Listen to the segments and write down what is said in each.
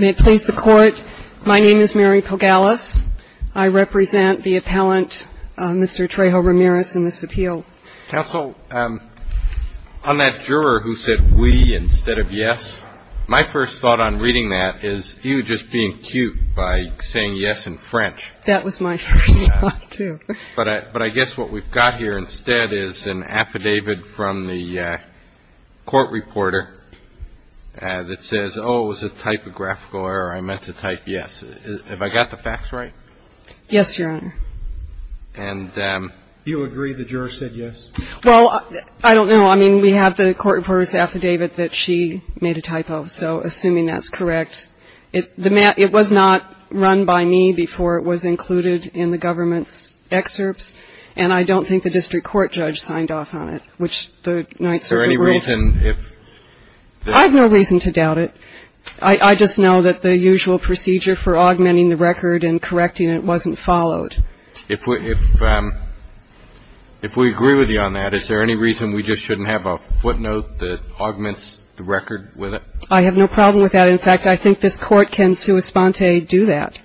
May it please the Court, my name is Mary Pogalis. I represent the appellant, Mr. Trejo-Ramirez, in this appeal. Counsel, on that juror who said oui instead of yes, my first thought on reading that is you just being cute by saying yes in French. That was my first thought, too. But I guess what we've got here instead is an affidavit from the court reporter that says, oh, it was a typographical error. I meant to type yes. Have I got the facts right? Yes, Your Honor. And you agree the juror said yes? Well, I don't know. I mean, we have the court reporter's affidavit that she made a typo. So assuming that's correct, it was not run by me before it was included in the government's excerpts. And I don't think the district court judge signed off on it, which the Ninth Circuit ruled. Is there any reason if the – I have no reason to doubt it. I just know that the usual procedure for augmenting the record and correcting it wasn't followed. If we agree with you on that, is there any reason we just shouldn't have a footnote that augments the record with it? I have no problem with that. In fact, I think this court can sua sponte do that,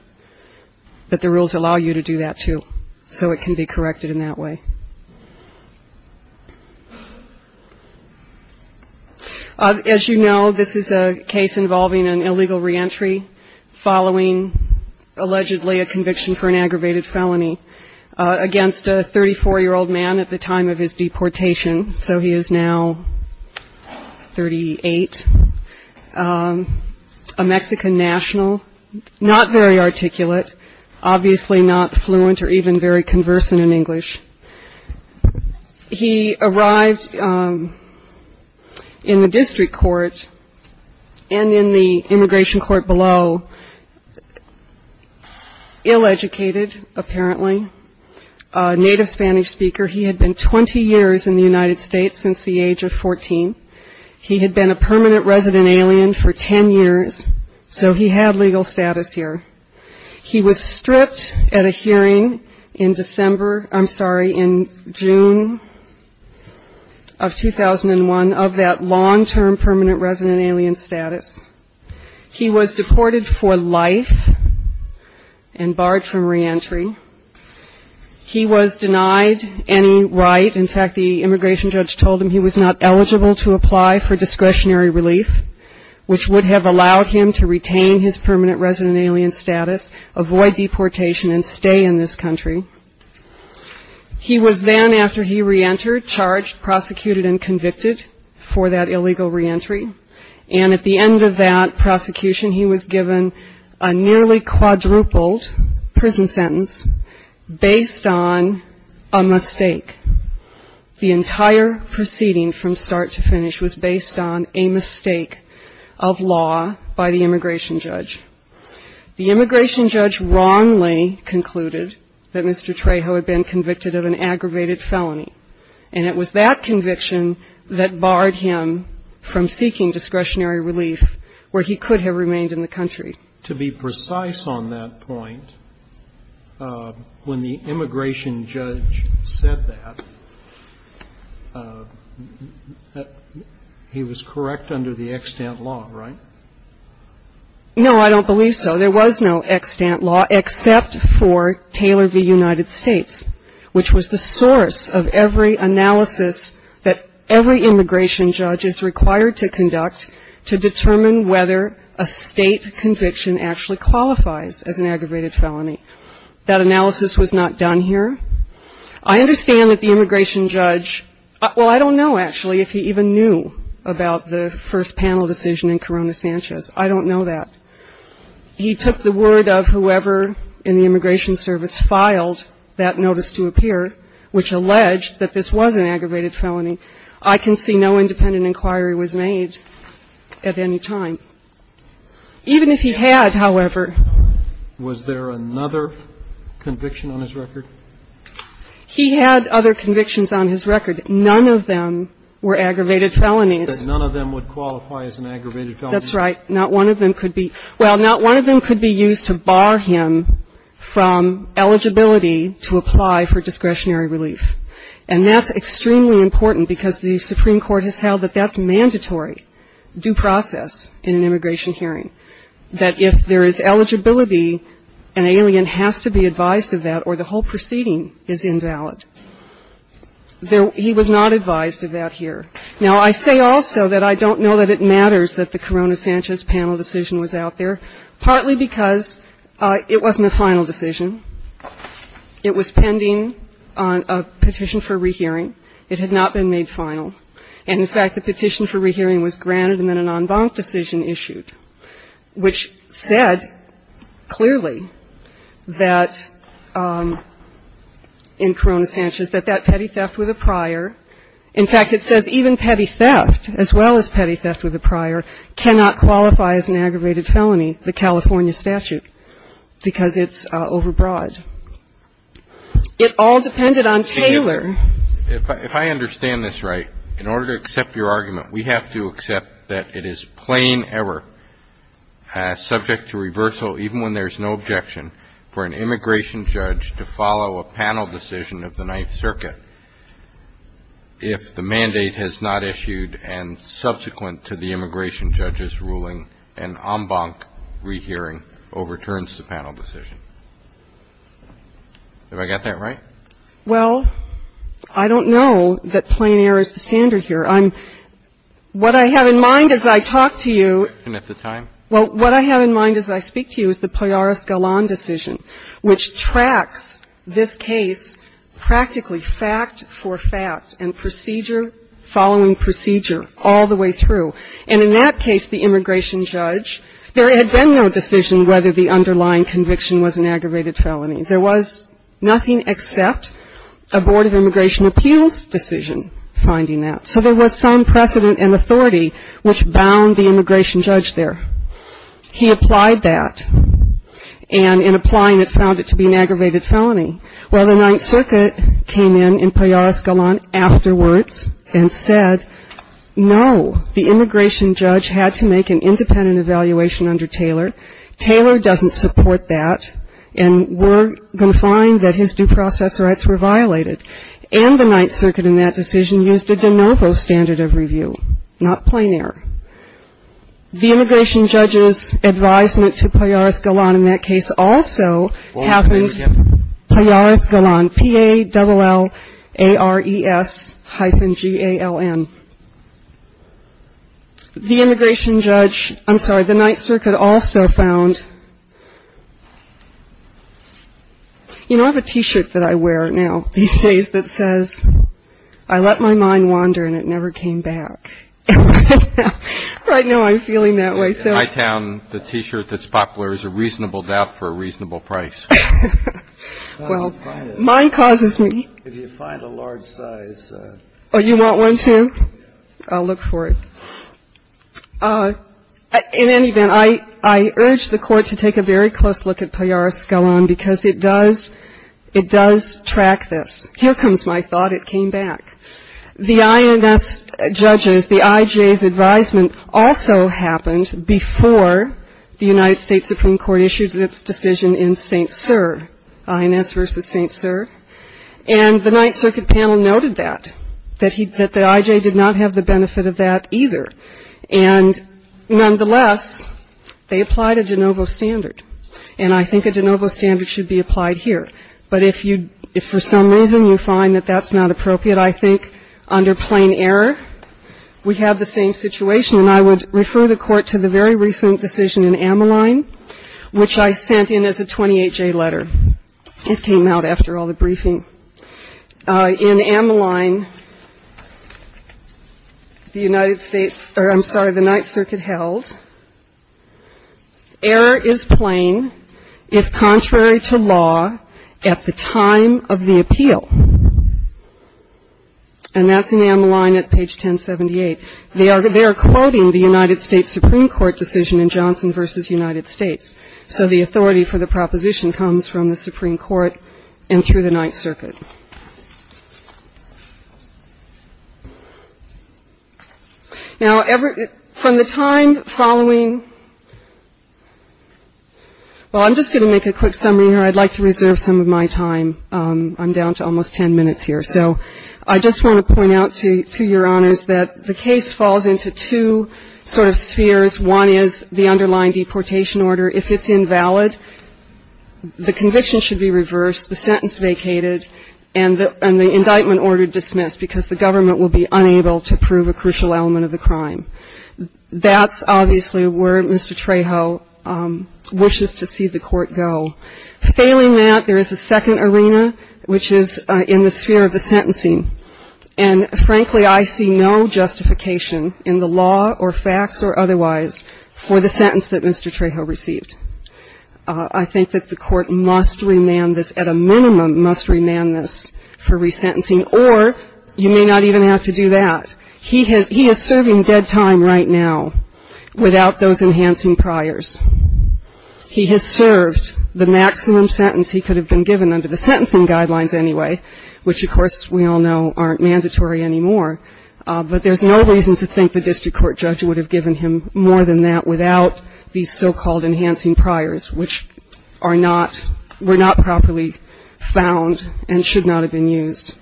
that the rules allow you to do that, too, so it can be corrected in that way. As you know, this is a case involving an illegal reentry following allegedly a conviction for an aggravated felony against a 34-year-old man at the time of his deportation. So he is now 38, a Mexican national, not very articulate, obviously not fluent or even very conversant in English. He arrived in the district court and in the immigration court below ill-educated, apparently, a native Spanish speaker. He had been 20 years in the United States since the age of 14. He had been a permanent resident alien for 10 years, so he had legal status here. He was stripped at a hearing in December – I'm sorry, in June of 2001 of that long-term permanent resident alien status. He was deported for life and barred from reentry. He was denied any right – in fact, the immigration judge told him he was not eligible to apply for discretionary relief, which would have allowed him to retain his permanent resident alien status, avoid deportation, and stay in this country. He was then, after he reentered, charged, prosecuted, and convicted for that illegal reentry. And at the end of that prosecution, he was given a nearly quadrupled prison sentence based on a mistake. The entire proceeding from start to finish was based on a mistake of law by the immigration judge. The immigration judge wrongly concluded that Mr. Trejo had been convicted of an aggravated felony, and it was that conviction that barred him from seeking discretionary relief where he could have remained in the country. To be precise on that point, when the immigration judge said that, he was correct under the extant law, right? No, I don't believe so. There was no extant law except for Taylor v. United States, which was the source of every analysis that every immigration judge is required to conduct to determine whether a state conviction actually qualifies as an aggravated felony. That analysis was not done here. I understand that the immigration judge – well, I don't know, actually, if he even knew about the first panel decision in Corona Sanchez. I don't know that. He took the word of whoever in the immigration service filed that notice to appear, which alleged that this was an aggravated felony. I can see no independent inquiry was made at any time. Even if he had, however – Was there another conviction on his record? He had other convictions on his record. None of them were aggravated felonies. So none of them would qualify as an aggravated felony? That's right. Not one of them could be – well, not one of them could be used to bar him from eligibility to apply for discretionary relief. And that's extremely important because the Supreme Court has held that that's mandatory due process in an immigration hearing, that if there is eligibility, an alien has to be advised of that or the whole proceeding is invalid. He was not advised of that here. Now, I say also that I don't know that it matters that the Corona Sanchez panel decision was out there, partly because it wasn't a final decision. It was pending a petition for rehearing. It had not been made final. And, in fact, the petition for rehearing was granted and then an en banc decision issued, which said clearly that in Corona Sanchez that that petty theft with a prior – in fact, it says even petty theft, as well as petty theft with a prior, cannot qualify as an aggravated felony, the California statute, because it's overbroad. It all depended on Taylor. If I understand this right, in order to accept your argument, we have to accept that it is plain error, subject to reversal even when there's no objection, for an immigration judge to follow a panel decision of the Ninth Circuit. If the mandate has not issued and subsequent to the immigration judge's ruling, an en banc rehearing overturns the panel decision. Have I got that right? Well, I don't know that plain error is the standard here. I'm – what I have in mind as I talk to you – And at the time? Well, what I have in mind as I speak to you is the Poyaris-Gallon decision, which tracks this case practically fact for fact and procedure following procedure all the way through. And in that case, the immigration judge, there had been no decision whether the underlying conviction was an aggravated felony. There was nothing except a Board of Immigration Appeals decision finding that. So there was some precedent and authority which bound the immigration judge there. He applied that. And in applying it, found it to be an aggravated felony. Well, the Ninth Circuit came in in Poyaris-Gallon afterwards and said, no, the immigration judge had to make an independent evaluation under Taylor. Taylor doesn't support that. And we're going to find that his due process rights were violated. And the Ninth Circuit in that decision used a de novo standard of review, not plain error. The immigration judge's advisement to Poyaris-Gallon in that case also happened Poyaris-Gallon, P-A-L-L-A-R-E-S hyphen G-A-L-L-N. The immigration judge, I'm sorry, the Ninth Circuit also found, you know I have a T-shirt that I wear now these days that says, I let my mind wander and it never came back. Right now I'm feeling that way. In my town, the T-shirt that's popular is a reasonable doubt for a reasonable price. Well, mine causes me. If you find a large size. Oh, you want one too? I'll look for it. In any event, I urge the Court to take a very close look at Poyaris-Gallon because it does track this. Here comes my thought. It came back. The INS judges, the IJ's advisement also happened before the United States Supreme Court issued its decision in St. Cyr, INS v. St. Cyr. And the Ninth Circuit panel noted that, that the IJ did not have the benefit of that either. And nonetheless, they applied a de novo standard. And I think a de novo standard should be applied here. But if you, if for some reason you find that that's not appropriate, I think under plain error, we have the same situation. And I would refer the Court to the very recent decision in Ammaline, which I sent in as a 28-J letter. It came out after all the briefing. In Ammaline, the United States, or I'm sorry, the Ninth Circuit held, error is plain if contrary to law, at the time of the appeal. And that's in Ammaline at page 1078. They are quoting the United States Supreme Court decision in Johnson v. United States. So the authority for the proposition comes from the Supreme Court and through the Ninth Circuit. Now, from the time following, well, I'm just going to make a quick summary here. I'd like to reserve some of my time. I'm down to almost 10 minutes here. So I just want to point out to your honors that the case falls into two sort of spheres. One is the underlying deportation order. If it's invalid, the conviction should be reversed, the sentence vacated, and the indictment order dismissed because the government will be unable to prove a crucial element of the crime. That's obviously where Mr. Trejo wishes to see the Court go. Failing that, there is a second arena, which is in the sphere of the sentencing. And frankly, I see no justification in the law or facts or otherwise for the sentence that Mr. Trejo received. I think that the Court must remand this, at a minimum must remand this for resentencing, or you may not even have to do that. He is serving dead time right now without those enhancing priors. He has served the maximum sentence he could have been given under the sentencing guidelines anyway, which, of course, we all know aren't mandatory anymore. But there's no reason to think the district court judge would have given him more than that without these so-called enhancing priors, which are not, were not properly found and should not have been used.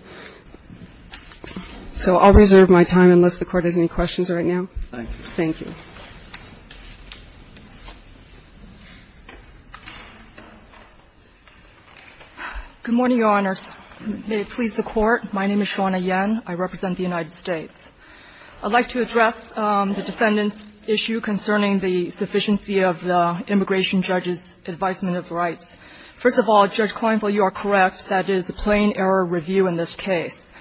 So I'll reserve my time unless the Court has any questions right now. Thank you. Thank you. Good morning, Your Honors. May it please the Court. My name is Shawna Yen. I represent the United States. I'd like to address the defendant's issue concerning the sufficiency of the immigration judge's advisement of rights. First of all, Judge Kleinfeld, you are correct. That is a plain error review in this case.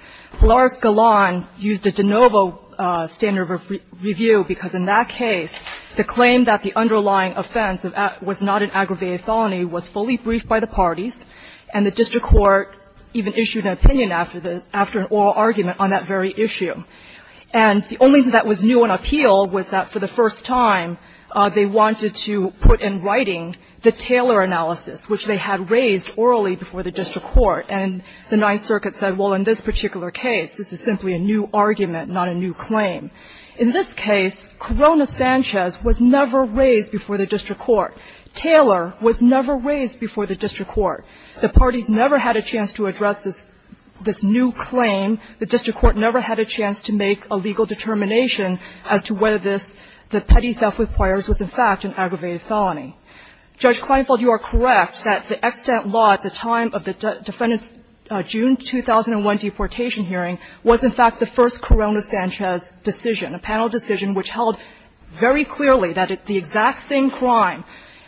Lars Galan used a de novo standard of review because in that case, the claim that the underlying offense was not an aggravated felony was fully briefed by the parties, and the district court even issued an opinion after this, after an oral argument on that very issue. And the only thing that was new on appeal was that for the first time, they wanted to put in writing the Taylor analysis, which they had raised orally before the district court. And the Ninth Circuit said, well, in this particular case, this is simply a new argument, not a new claim. In this case, Corona Sanchez was never raised before the district court. Taylor was never raised before the district court. The parties never had a chance to address this new claim. The district court never had a chance to make a legal determination as to whether this, the petty theft requires, was in fact an aggravated felony. Judge Kleinfeld, you are correct that the extant law at the time of the Defendant's June 2001 deportation hearing was, in fact, the first Corona Sanchez decision, a panel decision which held very clearly that the exact same crime,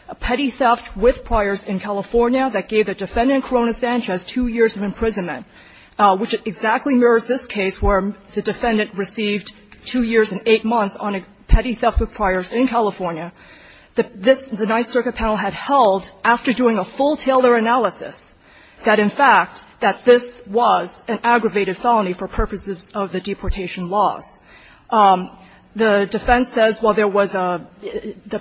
a petty theft with priors in California, that gave the Defendant Corona Sanchez two years of imprisonment, which exactly mirrors this case where the Defendant received two years and eight months on a petty theft with priors in California. The Ninth Circuit panel had held, after doing a full Taylor analysis, that, in fact, that this was an aggravated felony for purposes of the deportation laws. The defense says, well, there was a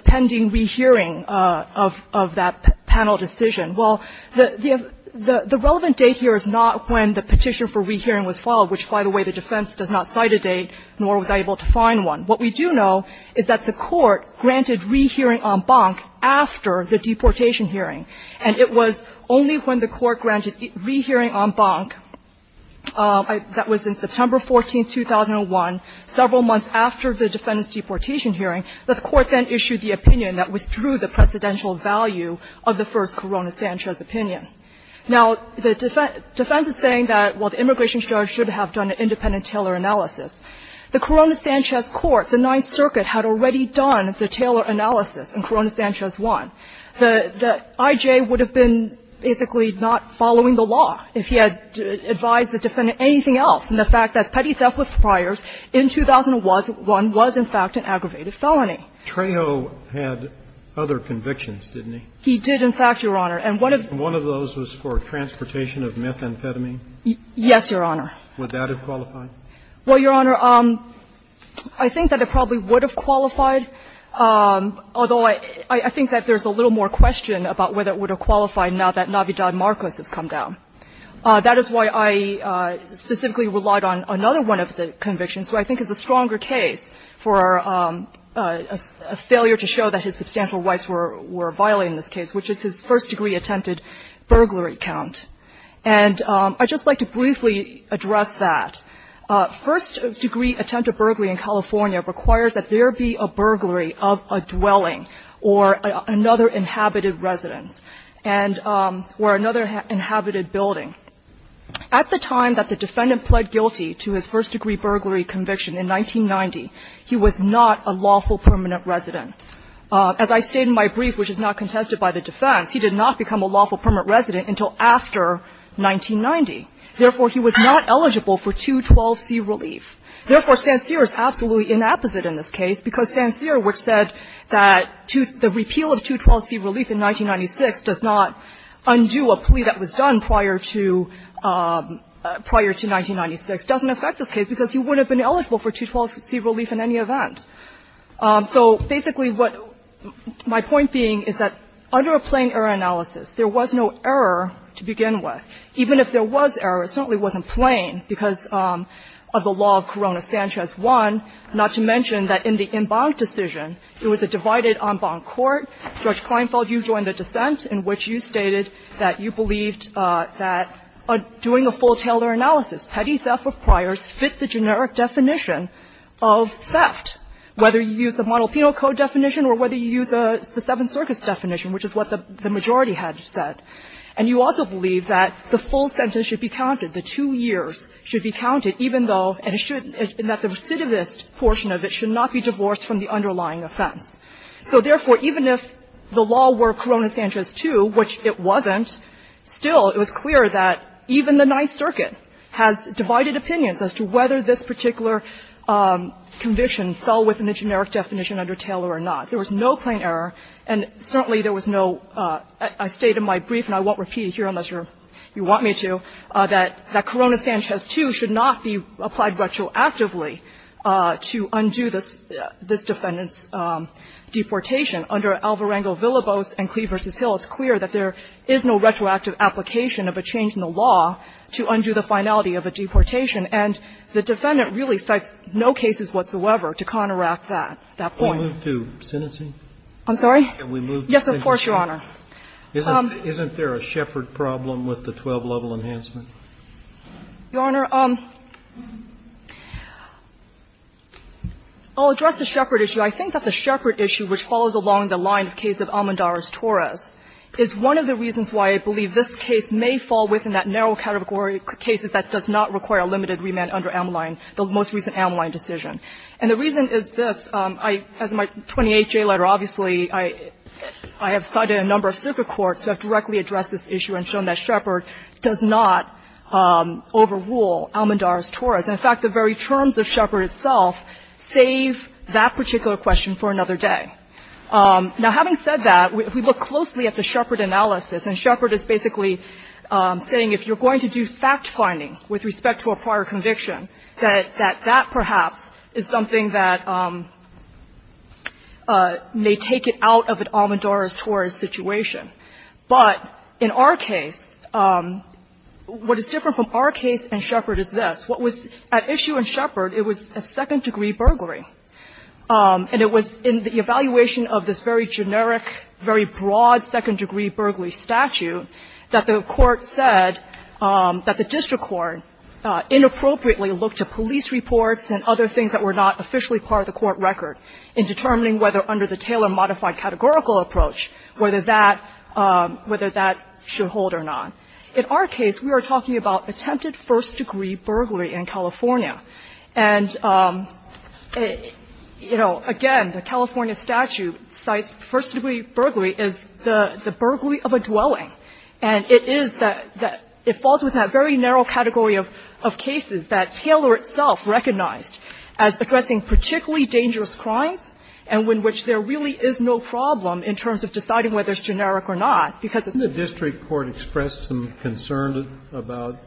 pending rehearing of that panel decision. Well, the relevant date here is not when the petition for rehearing was filed, which, by the way, the defense does not cite a date, nor was I able to find one. What we do know is that the Court granted rehearing en banc after the deportation hearing, and it was only when the Court granted rehearing en banc, that was in September 14, 2001, several months after the Defendant's deportation hearing, that the Court then issued the opinion that withdrew the precedential value of the first Corona Sanchez opinion. Now, the defense is saying that, well, the immigration charge should have done an independent Taylor analysis. The Corona Sanchez Court, the Ninth Circuit, had already done the Taylor analysis in Corona Sanchez 1. The I.J. would have been basically not following the law if he had advised the Defendant anything else in the fact that petty theft with priors in 2001 was, in fact, an aggravated felony. Trejo had other convictions, didn't he? He did, in fact, Your Honor. And one of those was for transportation of methamphetamine? Yes, Your Honor. Would that have qualified? Well, Your Honor, I think that it probably would have qualified, although I think that there's a little more question about whether it would have qualified now that Navidad Marcos has come down. That is why I specifically relied on another one of the convictions, which I think is a stronger case for a failure to show that his substantial rights were violated in this case, which is his first-degree attempted burglary count. And I'd just like to briefly address that. First-degree attempted burglary in California requires that there be a burglary of a dwelling or another inhabited residence and or another inhabited building. At the time that the Defendant pled guilty to his first-degree burglary conviction in 1990, he was not a lawful permanent resident. As I state in my brief, which is not contested by the defense, he did not become a lawful permanent resident until after 1990. Therefore, he was not eligible for 212C relief. Therefore, Sancerre is absolutely inapposite in this case, because Sancerre, which said that the repeal of 212C relief in 1996 does not undo a plea that was done prior to 1996, doesn't affect this case, because he wouldn't have been eligible for 212C relief in any event. So basically what my point being is that under a plain error analysis, there was no error to begin with. Even if there was error, it certainly wasn't plain because of the law of Corona-Sancerre 1, not to mention that in the in bond decision, there was a divided en banc court. Judge Kleinfeld, you joined the dissent in which you stated that you believed that doing a full-tailor analysis, petty theft of priors, fit the generic definition of theft. Whether you use the Monalpino Code definition or whether you use the Seventh Circuit's definition, which is what the majority had said. And you also believe that the full sentence should be counted, the two years should be counted, even though, and that the recidivist portion of it should not be divorced from the underlying offense. So therefore, even if the law were Corona-Sancerre's 2, which it wasn't, still it was clear that even the Ninth Circuit has divided opinions as to whether this particular condition fell within the generic definition under tailor or not. There was no plain error, and certainly there was no, I state in my brief, and I won't repeat it here unless you want me to, that Corona-Sancerre's 2 should not be applied retroactively to undo this defendant's deportation. Under Alvarengo-Villabose and Cleave v. Hill, it's clear that there is no retroactive application of a change in the law to undo the finality of a deportation. And the defendant really cites no cases whatsoever to counteract that, that point. Kennedy, we move to sentencing? I'm sorry? Can we move to sentencing? Yes, of course, Your Honor. Isn't there a Shepard problem with the 12-level enhancement? Your Honor, I'll address the Shepard issue. I think that the Shepard issue, which follows along the line of the case of Almendar's Torres, is one of the reasons why I believe this case may fall within that narrow category of cases that does not require limited remand under Ameline, the most recent Ameline decision. And the reason is this. I, as my 28-J letter, obviously, I have cited a number of circuit courts who have directly addressed this issue and shown that Shepard does not overrule Almendar's Torres. In fact, the very terms of Shepard itself save that particular question for another day. Now, having said that, if we look closely at the Shepard analysis, and Shepard is basically saying if you're going to do fact-finding with respect to a prior conviction, that that perhaps is something that may take it out of an Almendar's Torres situation. But in our case, what is different from our case and Shepard is this. What was at issue in Shepard, it was a second-degree burglary. And it was in the evaluation of this very generic, very broad second-degree burglary statute that the court said that the district court inappropriately looked to police reports and other things that were not officially part of the court record in determining whether, under the Taylor modified categorical approach, whether that should hold or not. In our case, we are talking about attempted first-degree burglary in California. And, you know, again, the California statute cites first-degree burglary as the burglary of a dwelling. And it is that the – it falls within that very narrow category of cases that Taylor itself recognized as addressing particularly dangerous crimes and in which there really is no problem in terms of deciding whether it's generic or not, because it's not. The district court expressed some concern about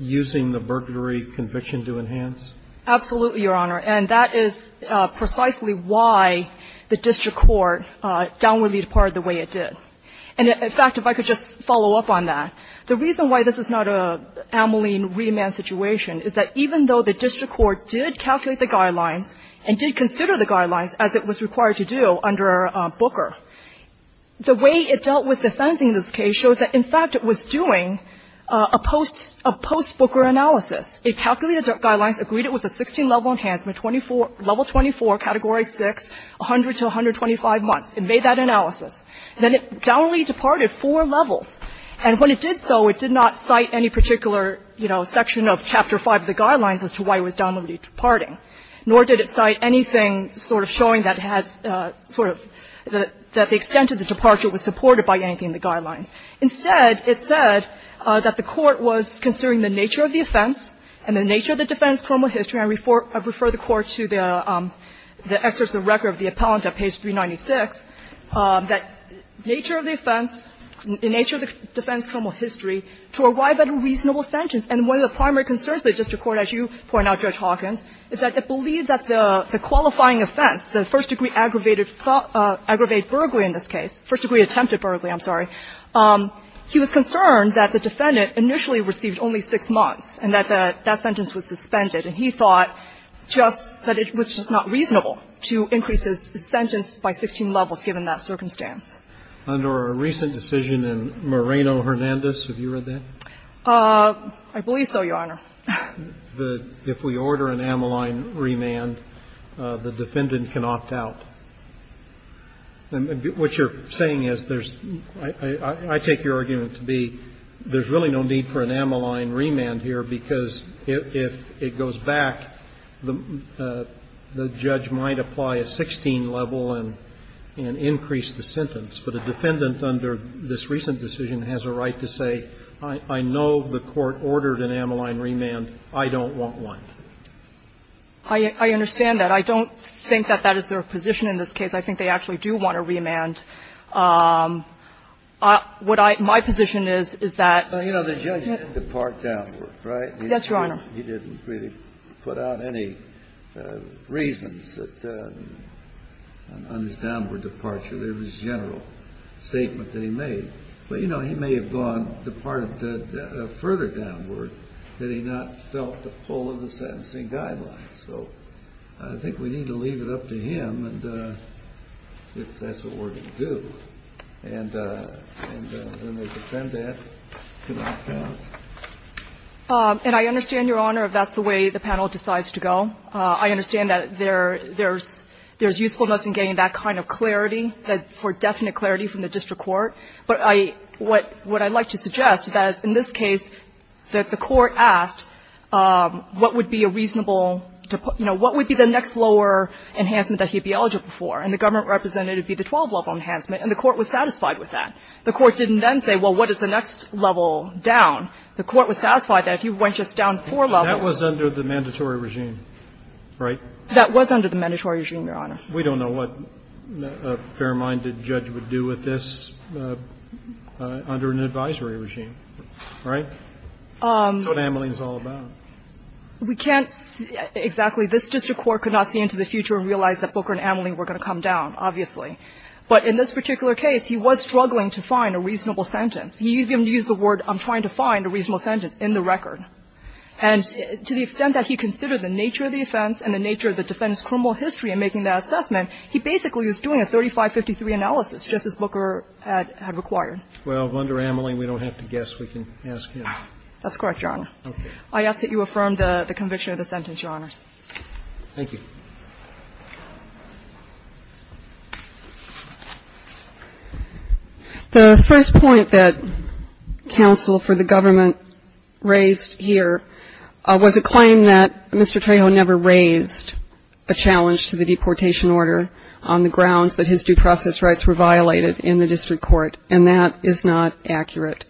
using the burglary conviction to enhance? Absolutely, Your Honor. And that is precisely why the district court downwardly departed the way it did. And, in fact, if I could just follow up on that, the reason why this is not an Ameline remand situation is that even though the district court did calculate the guidelines and did consider the guidelines as it was required to do under Booker, the way it dealt with the sentencing in this case shows that, in fact, it was doing a post – a post-Booker analysis. It calculated the guidelines, agreed it was a 16-level enhancement, 24 – level 24, category 6, 100 to 125 months, and made that analysis. Then it downwardly departed four levels. And when it did so, it did not cite any particular, you know, section of Chapter 5 of the guidelines as to why it was downwardly departing, nor did it cite anything sort of showing that it has sort of the – that the extent of the departure was supported by anything in the guidelines. Instead, it said that the court was considering the nature of the offense and the nature of the defense, formal history. I refer the Court to the excerpts of record of the appellant at page 396 that, in nature of the offense, in nature of the defense, formal history, to arrive at a reasonable sentence. And one of the primary concerns of the district court, as you point out, Judge Hawkins, is that it believed that the qualifying offense, the first-degree aggravated – aggravated burglary in this case, first-degree attempted burglary, I'm sorry, he was concerned that the defendant initially received only 6 months and that that sentence was suspended. And he thought just that it was just not reasonable to increase his sentence by 16 levels, given that circumstance. Under a recent decision in Moreno-Hernandez, have you read that? I believe so, Your Honor. If we order an ammoline remand, the defendant can opt out. What you're saying is there's – I take your argument to be there's really no need for an ammoline remand here, because if it goes back, the judge might apply a 16-level and increase the sentence. But a defendant under this recent decision has a right to say, I know the court ordered an ammoline remand, I don't want one. I understand that. I don't think that that is their position in this case. I think they actually do want a remand. What I – my position is, is that the judge didn't depart downward, right? Yes, Your Honor. He didn't really put out any reasons that, on his downward departure, there was a general statement that he made. But, you know, he may have gone – departed further downward that he not felt the pull of the sentencing guidelines. So I think we need to leave it up to him and – if that's what we're to do. And then the defendant cannot count. And I understand, Your Honor, if that's the way the panel decides to go. I understand that there's usefulness in getting that kind of clarity, that – for definite clarity from the district court. But I – what I'd like to suggest is that, in this case, that the court asked what would be a reasonable – you know, what would be the next lower enhancement that he'd be eligible for. And the government represented it would be the 12-level enhancement, and the court was satisfied with that. The court didn't then say, well, what is the next level down? The court was satisfied that if he went just down four levels – Kennedy, that was under the mandatory regime, right? That was under the mandatory regime, Your Honor. We don't know what a fair-minded judge would do with this under an advisory regime, right? That's what Ameling is all about. We can't exactly – this district court could not see into the future and realize that Booker and Ameling were going to come down, obviously. But in this particular case, he was struggling to find a reasonable sentence. He even used the word, I'm trying to find a reasonable sentence, in the record. And to the extent that he considered the nature of the offense and the nature of the defendant's criminal history in making that assessment, he basically was doing a 3553 analysis, just as Booker had required. Well, under Ameling, we don't have to guess. We can ask him. That's correct, Your Honor. Okay. I ask that you affirm the conviction of the sentence, Your Honors. Thank you. The first point that counsel for the government raised here was a claim that Mr. Trejo never raised a challenge to the deportation order on the grounds that his due process rights were violated in the district court. And that is not accurate.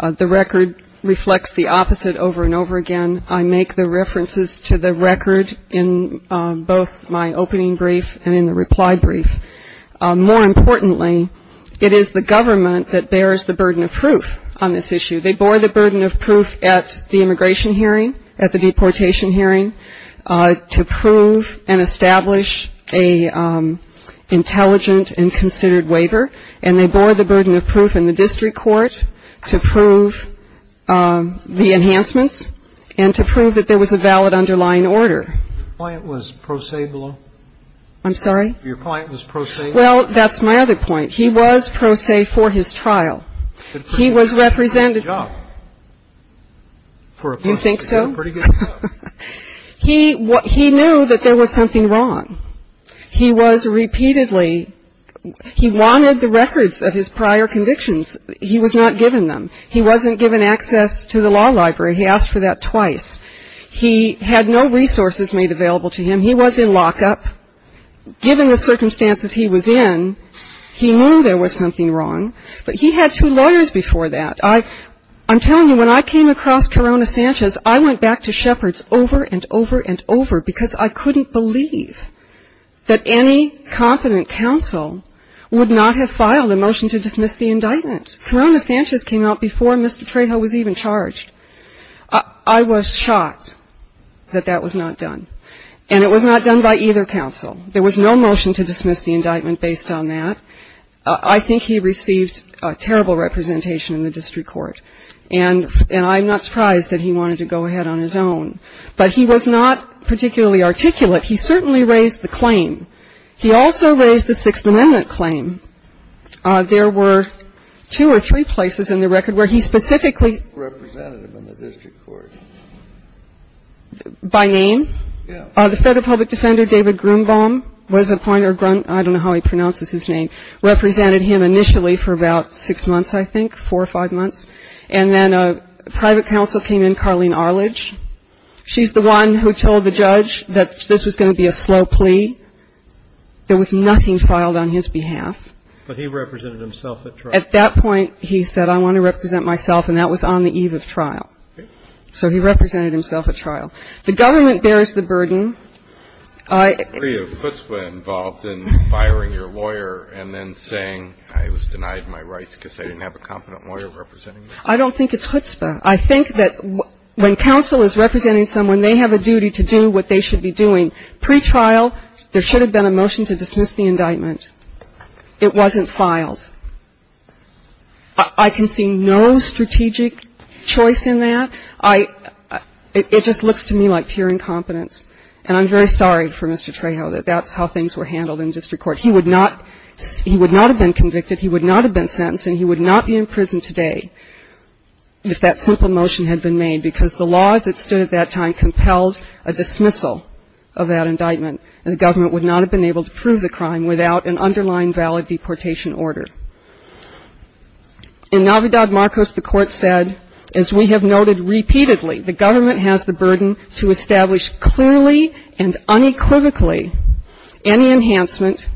The record reflects the opposite over and over again. I make the references to the record in both my opening brief and in the reply brief. More importantly, it is the government that bears the burden of proof on this issue. They bore the burden of proof at the immigration hearing, at the deportation hearing, to prove and establish an intelligent and considered waiver. And they bore the burden of proof in the district court to prove the enhancements and to prove that there was a valid underlying order. Your point was pro se below? I'm sorry? Your point was pro se? Well, that's my other point. He was pro se for his trial. He was represented. He did a pretty good job for a prosecutor. You think so? He did a pretty good job. He knew that there was something wrong. He was repeatedly he wanted the records of his prior convictions. He was not given them. He wasn't given access to the law library. He asked for that twice. He had no resources made available to him. He was in lockup. Given the circumstances he was in, he knew there was something wrong. But he had two lawyers before that. I'm telling you, when I came across Corona Sanchez, I went back to Shepard's over and over and over because I couldn't believe that any confident counsel would not have filed a motion to dismiss the indictment. Corona Sanchez came out before Mr. Trejo was even charged. I was shocked that that was not done. And it was not done by either counsel. There was no motion to dismiss the indictment based on that. I think he received a terrible representation in the district court. And I'm not surprised that he wanted to go ahead on his own. But he was not particularly articulate. He certainly raised the claim. He also raised the Sixth Amendment claim. There were two or three places in the record where he specifically represented him in the district court. By name? Yeah. The Federal Public Defender, David Grunbaum, was appointed, or Grun, I don't know how he pronounces his name, represented him initially for about six months, I think, four or five months. And then a private counsel came in, Carlene Arledge. She's the one who told the judge that this was going to be a slow plea. There was nothing trialed on his behalf. But he represented himself at trial. At that point, he said, I want to represent myself, and that was on the eve of trial. So he represented himself at trial. The government bears the burden. I agree with Chutzpah involved in firing your lawyer and then saying I was denied my rights because I didn't have a competent lawyer representing me. I don't think it's Chutzpah. I think that when counsel is representing someone, they have a duty to do what they should be doing. Pre-trial, there should have been a motion to dismiss the indictment. It wasn't filed. I can see no strategic choice in that. I — it just looks to me like pure incompetence. And I'm very sorry for Mr. Trejo that that's how things were handled in district court. He would not — he would not have been convicted, he would not have been sentenced, and he would not be in prison today if that simple motion had been made, because the laws that stood at that time compelled a dismissal of that indictment, and the government would not have been able to prove the crime without an underlying valid deportation order. In Navidad Marcos, the court said, as we have noted repeatedly, the government has the burden to establish clearly and unequivocally any enhancement,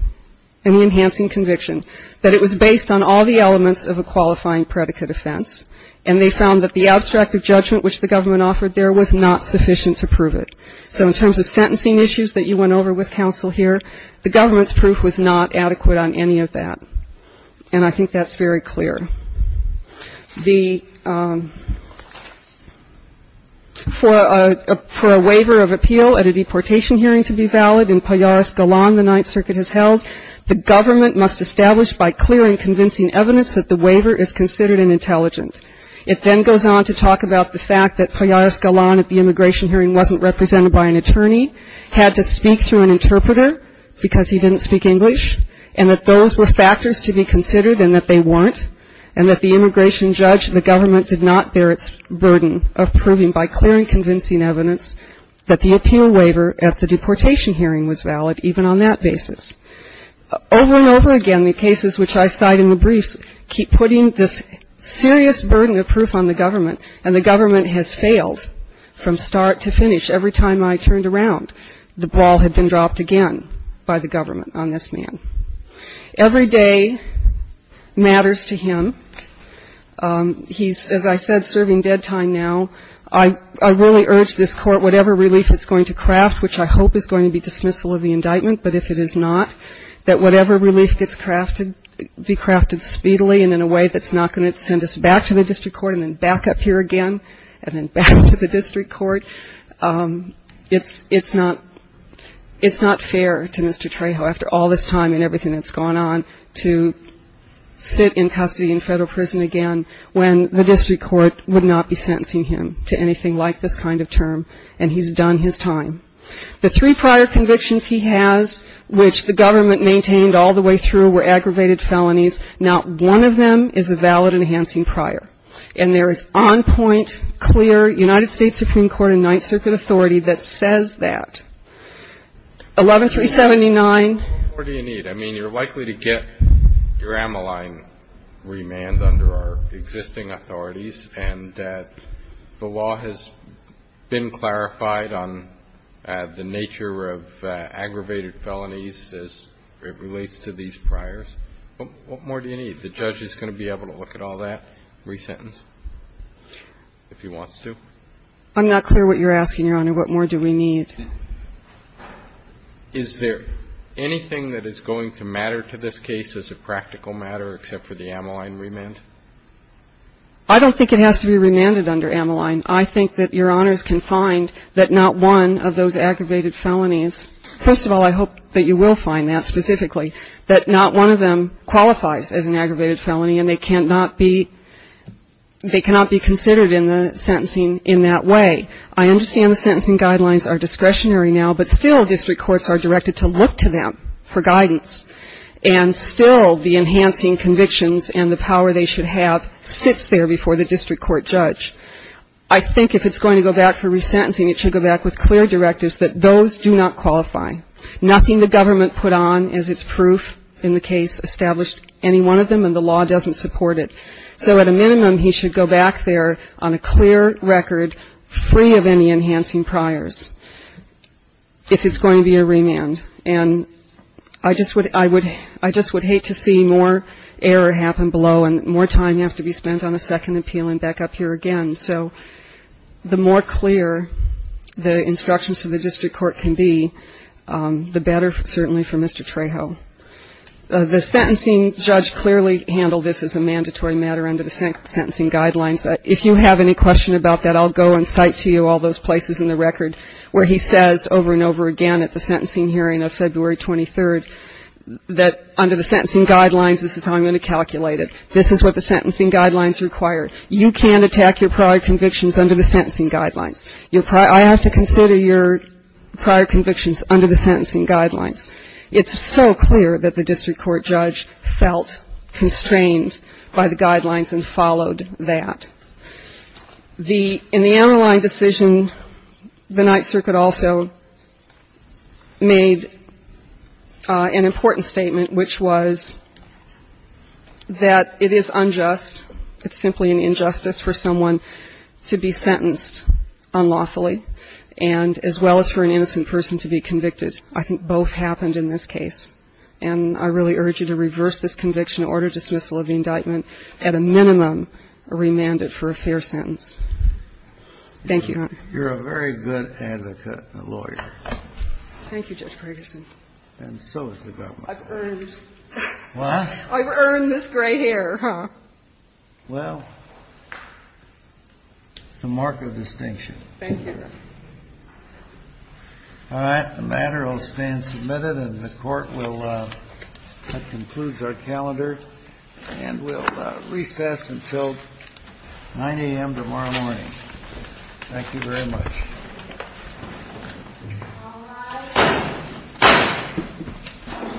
any enhancing conviction, that it was based on all the elements of a qualifying predicate offense. And they found that the abstract of judgment which the government offered there was not sufficient to prove it. So in terms of sentencing issues that you went over with counsel here, the government's proof was not adequate on any of that. And I think that's very clear. The — for a waiver of appeal at a deportation hearing to be valid in Pallares Galan, the Ninth Circuit has held, the government must establish by clear and It then goes on to talk about the fact that Pallares Galan at the immigration hearing wasn't represented by an attorney, had to speak through an interpreter because he didn't speak English, and that those were factors to be considered and that they weren't, and that the immigration judge, the government did not bear its burden of proving by clear and convincing evidence that the appeal waiver at the deportation hearing was valid, even on that basis. Over and over again, the cases which I cite in the briefs keep putting this serious burden of proof on the government, and the government has failed from start to finish. Every time I turned around, the ball had been dropped again by the government on this man. Every day matters to him. He's, as I said, serving dead time now. I really urge this Court, whatever relief it's going to craft, which I hope is going to be dismissal of the indictment, but if it is not, that whatever relief gets crafted be crafted speedily and in a way that's not going to send us back to the district court and then back up here again and then back to the district court, it's not fair to Mr. Trejo, after all this time and everything that's gone on, to sit in custody in federal prison again when the district court would not be sentencing him to anything like this kind of term, and he's done his time. The three prior convictions he has, which the government maintained all the way through, were aggravated felonies. Not one of them is a valid enhancing prior. And there is on point, clear United States Supreme Court and Ninth Circuit authority that says that. 11379. What more do you need? I mean, you're likely to get your amyline remand under our existing authorities, and the law has been clarified on the nature of aggravated felonies as it relates to these priors. But what more do you need? The judge is going to be able to look at all that, resentence, if he wants to. I'm not clear what you're asking, Your Honor. What more do we need? Is there anything that is going to matter to this case as a practical matter, except for the amyline remand? I don't think it has to be remanded under amyline. I think that Your Honors can find that not one of those aggravated felonies, first of all, I hope that you will find that specifically, that not one of them qualifies as an aggravated felony and they cannot be considered in the sentencing in that way. I understand the sentencing guidelines are discretionary now, but still district courts are directed to look to them for guidance. And still the enhancing convictions and the power they should have sits there before the district court judge. I think if it's going to go back for resentencing, it should go back with clear directives that those do not qualify. Nothing the government put on as its proof in the case established any one of them, and the law doesn't support it. So at a minimum, he should go back there on a clear record, free of any enhancing priors, if it's going to be a remand. And I just would hate to see more error happen below, and more time have to be spent on a second appeal and back up here again. So the more clear the instructions to the district court can be, the better certainly for Mr. Trejo. The sentencing judge clearly handled this as a mandatory matter under the sentencing guidelines. If you have any question about that, I'll go and cite to you all those places in the record where he says over and over again at the sentencing hearing of February 23rd that under the sentencing guidelines, this is how I'm going to calculate it. This is what the sentencing guidelines require. You can't attack your prior convictions under the sentencing guidelines. I have to consider your prior convictions under the sentencing guidelines. It's so clear that the district court judge felt constrained by the guidelines and followed that. In the Amarillo line decision, the Ninth Circuit also made an important statement, which was that it is unjust. It's simply an injustice for someone to be sentenced unlawfully, and as well as for an innocent person to be convicted. I think both happened in this case. And I really urge you to reverse this conviction, order dismissal of the indictment, at a minimum, remand it for a fair sentence. Thank you, Your Honor. You're a very good advocate and a lawyer. Thank you, Judge Ferguson. And so is the government. I've earned. What? I've earned this gray hair, huh? Well, it's a mark of distinction. Thank you, Your Honor. All right, the matter will stand submitted, and the court will, that concludes our calendar, and we'll recess until 9 a.m. tomorrow morning. Thank you very much. The court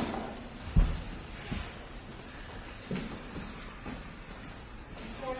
will recess and stand adjourned.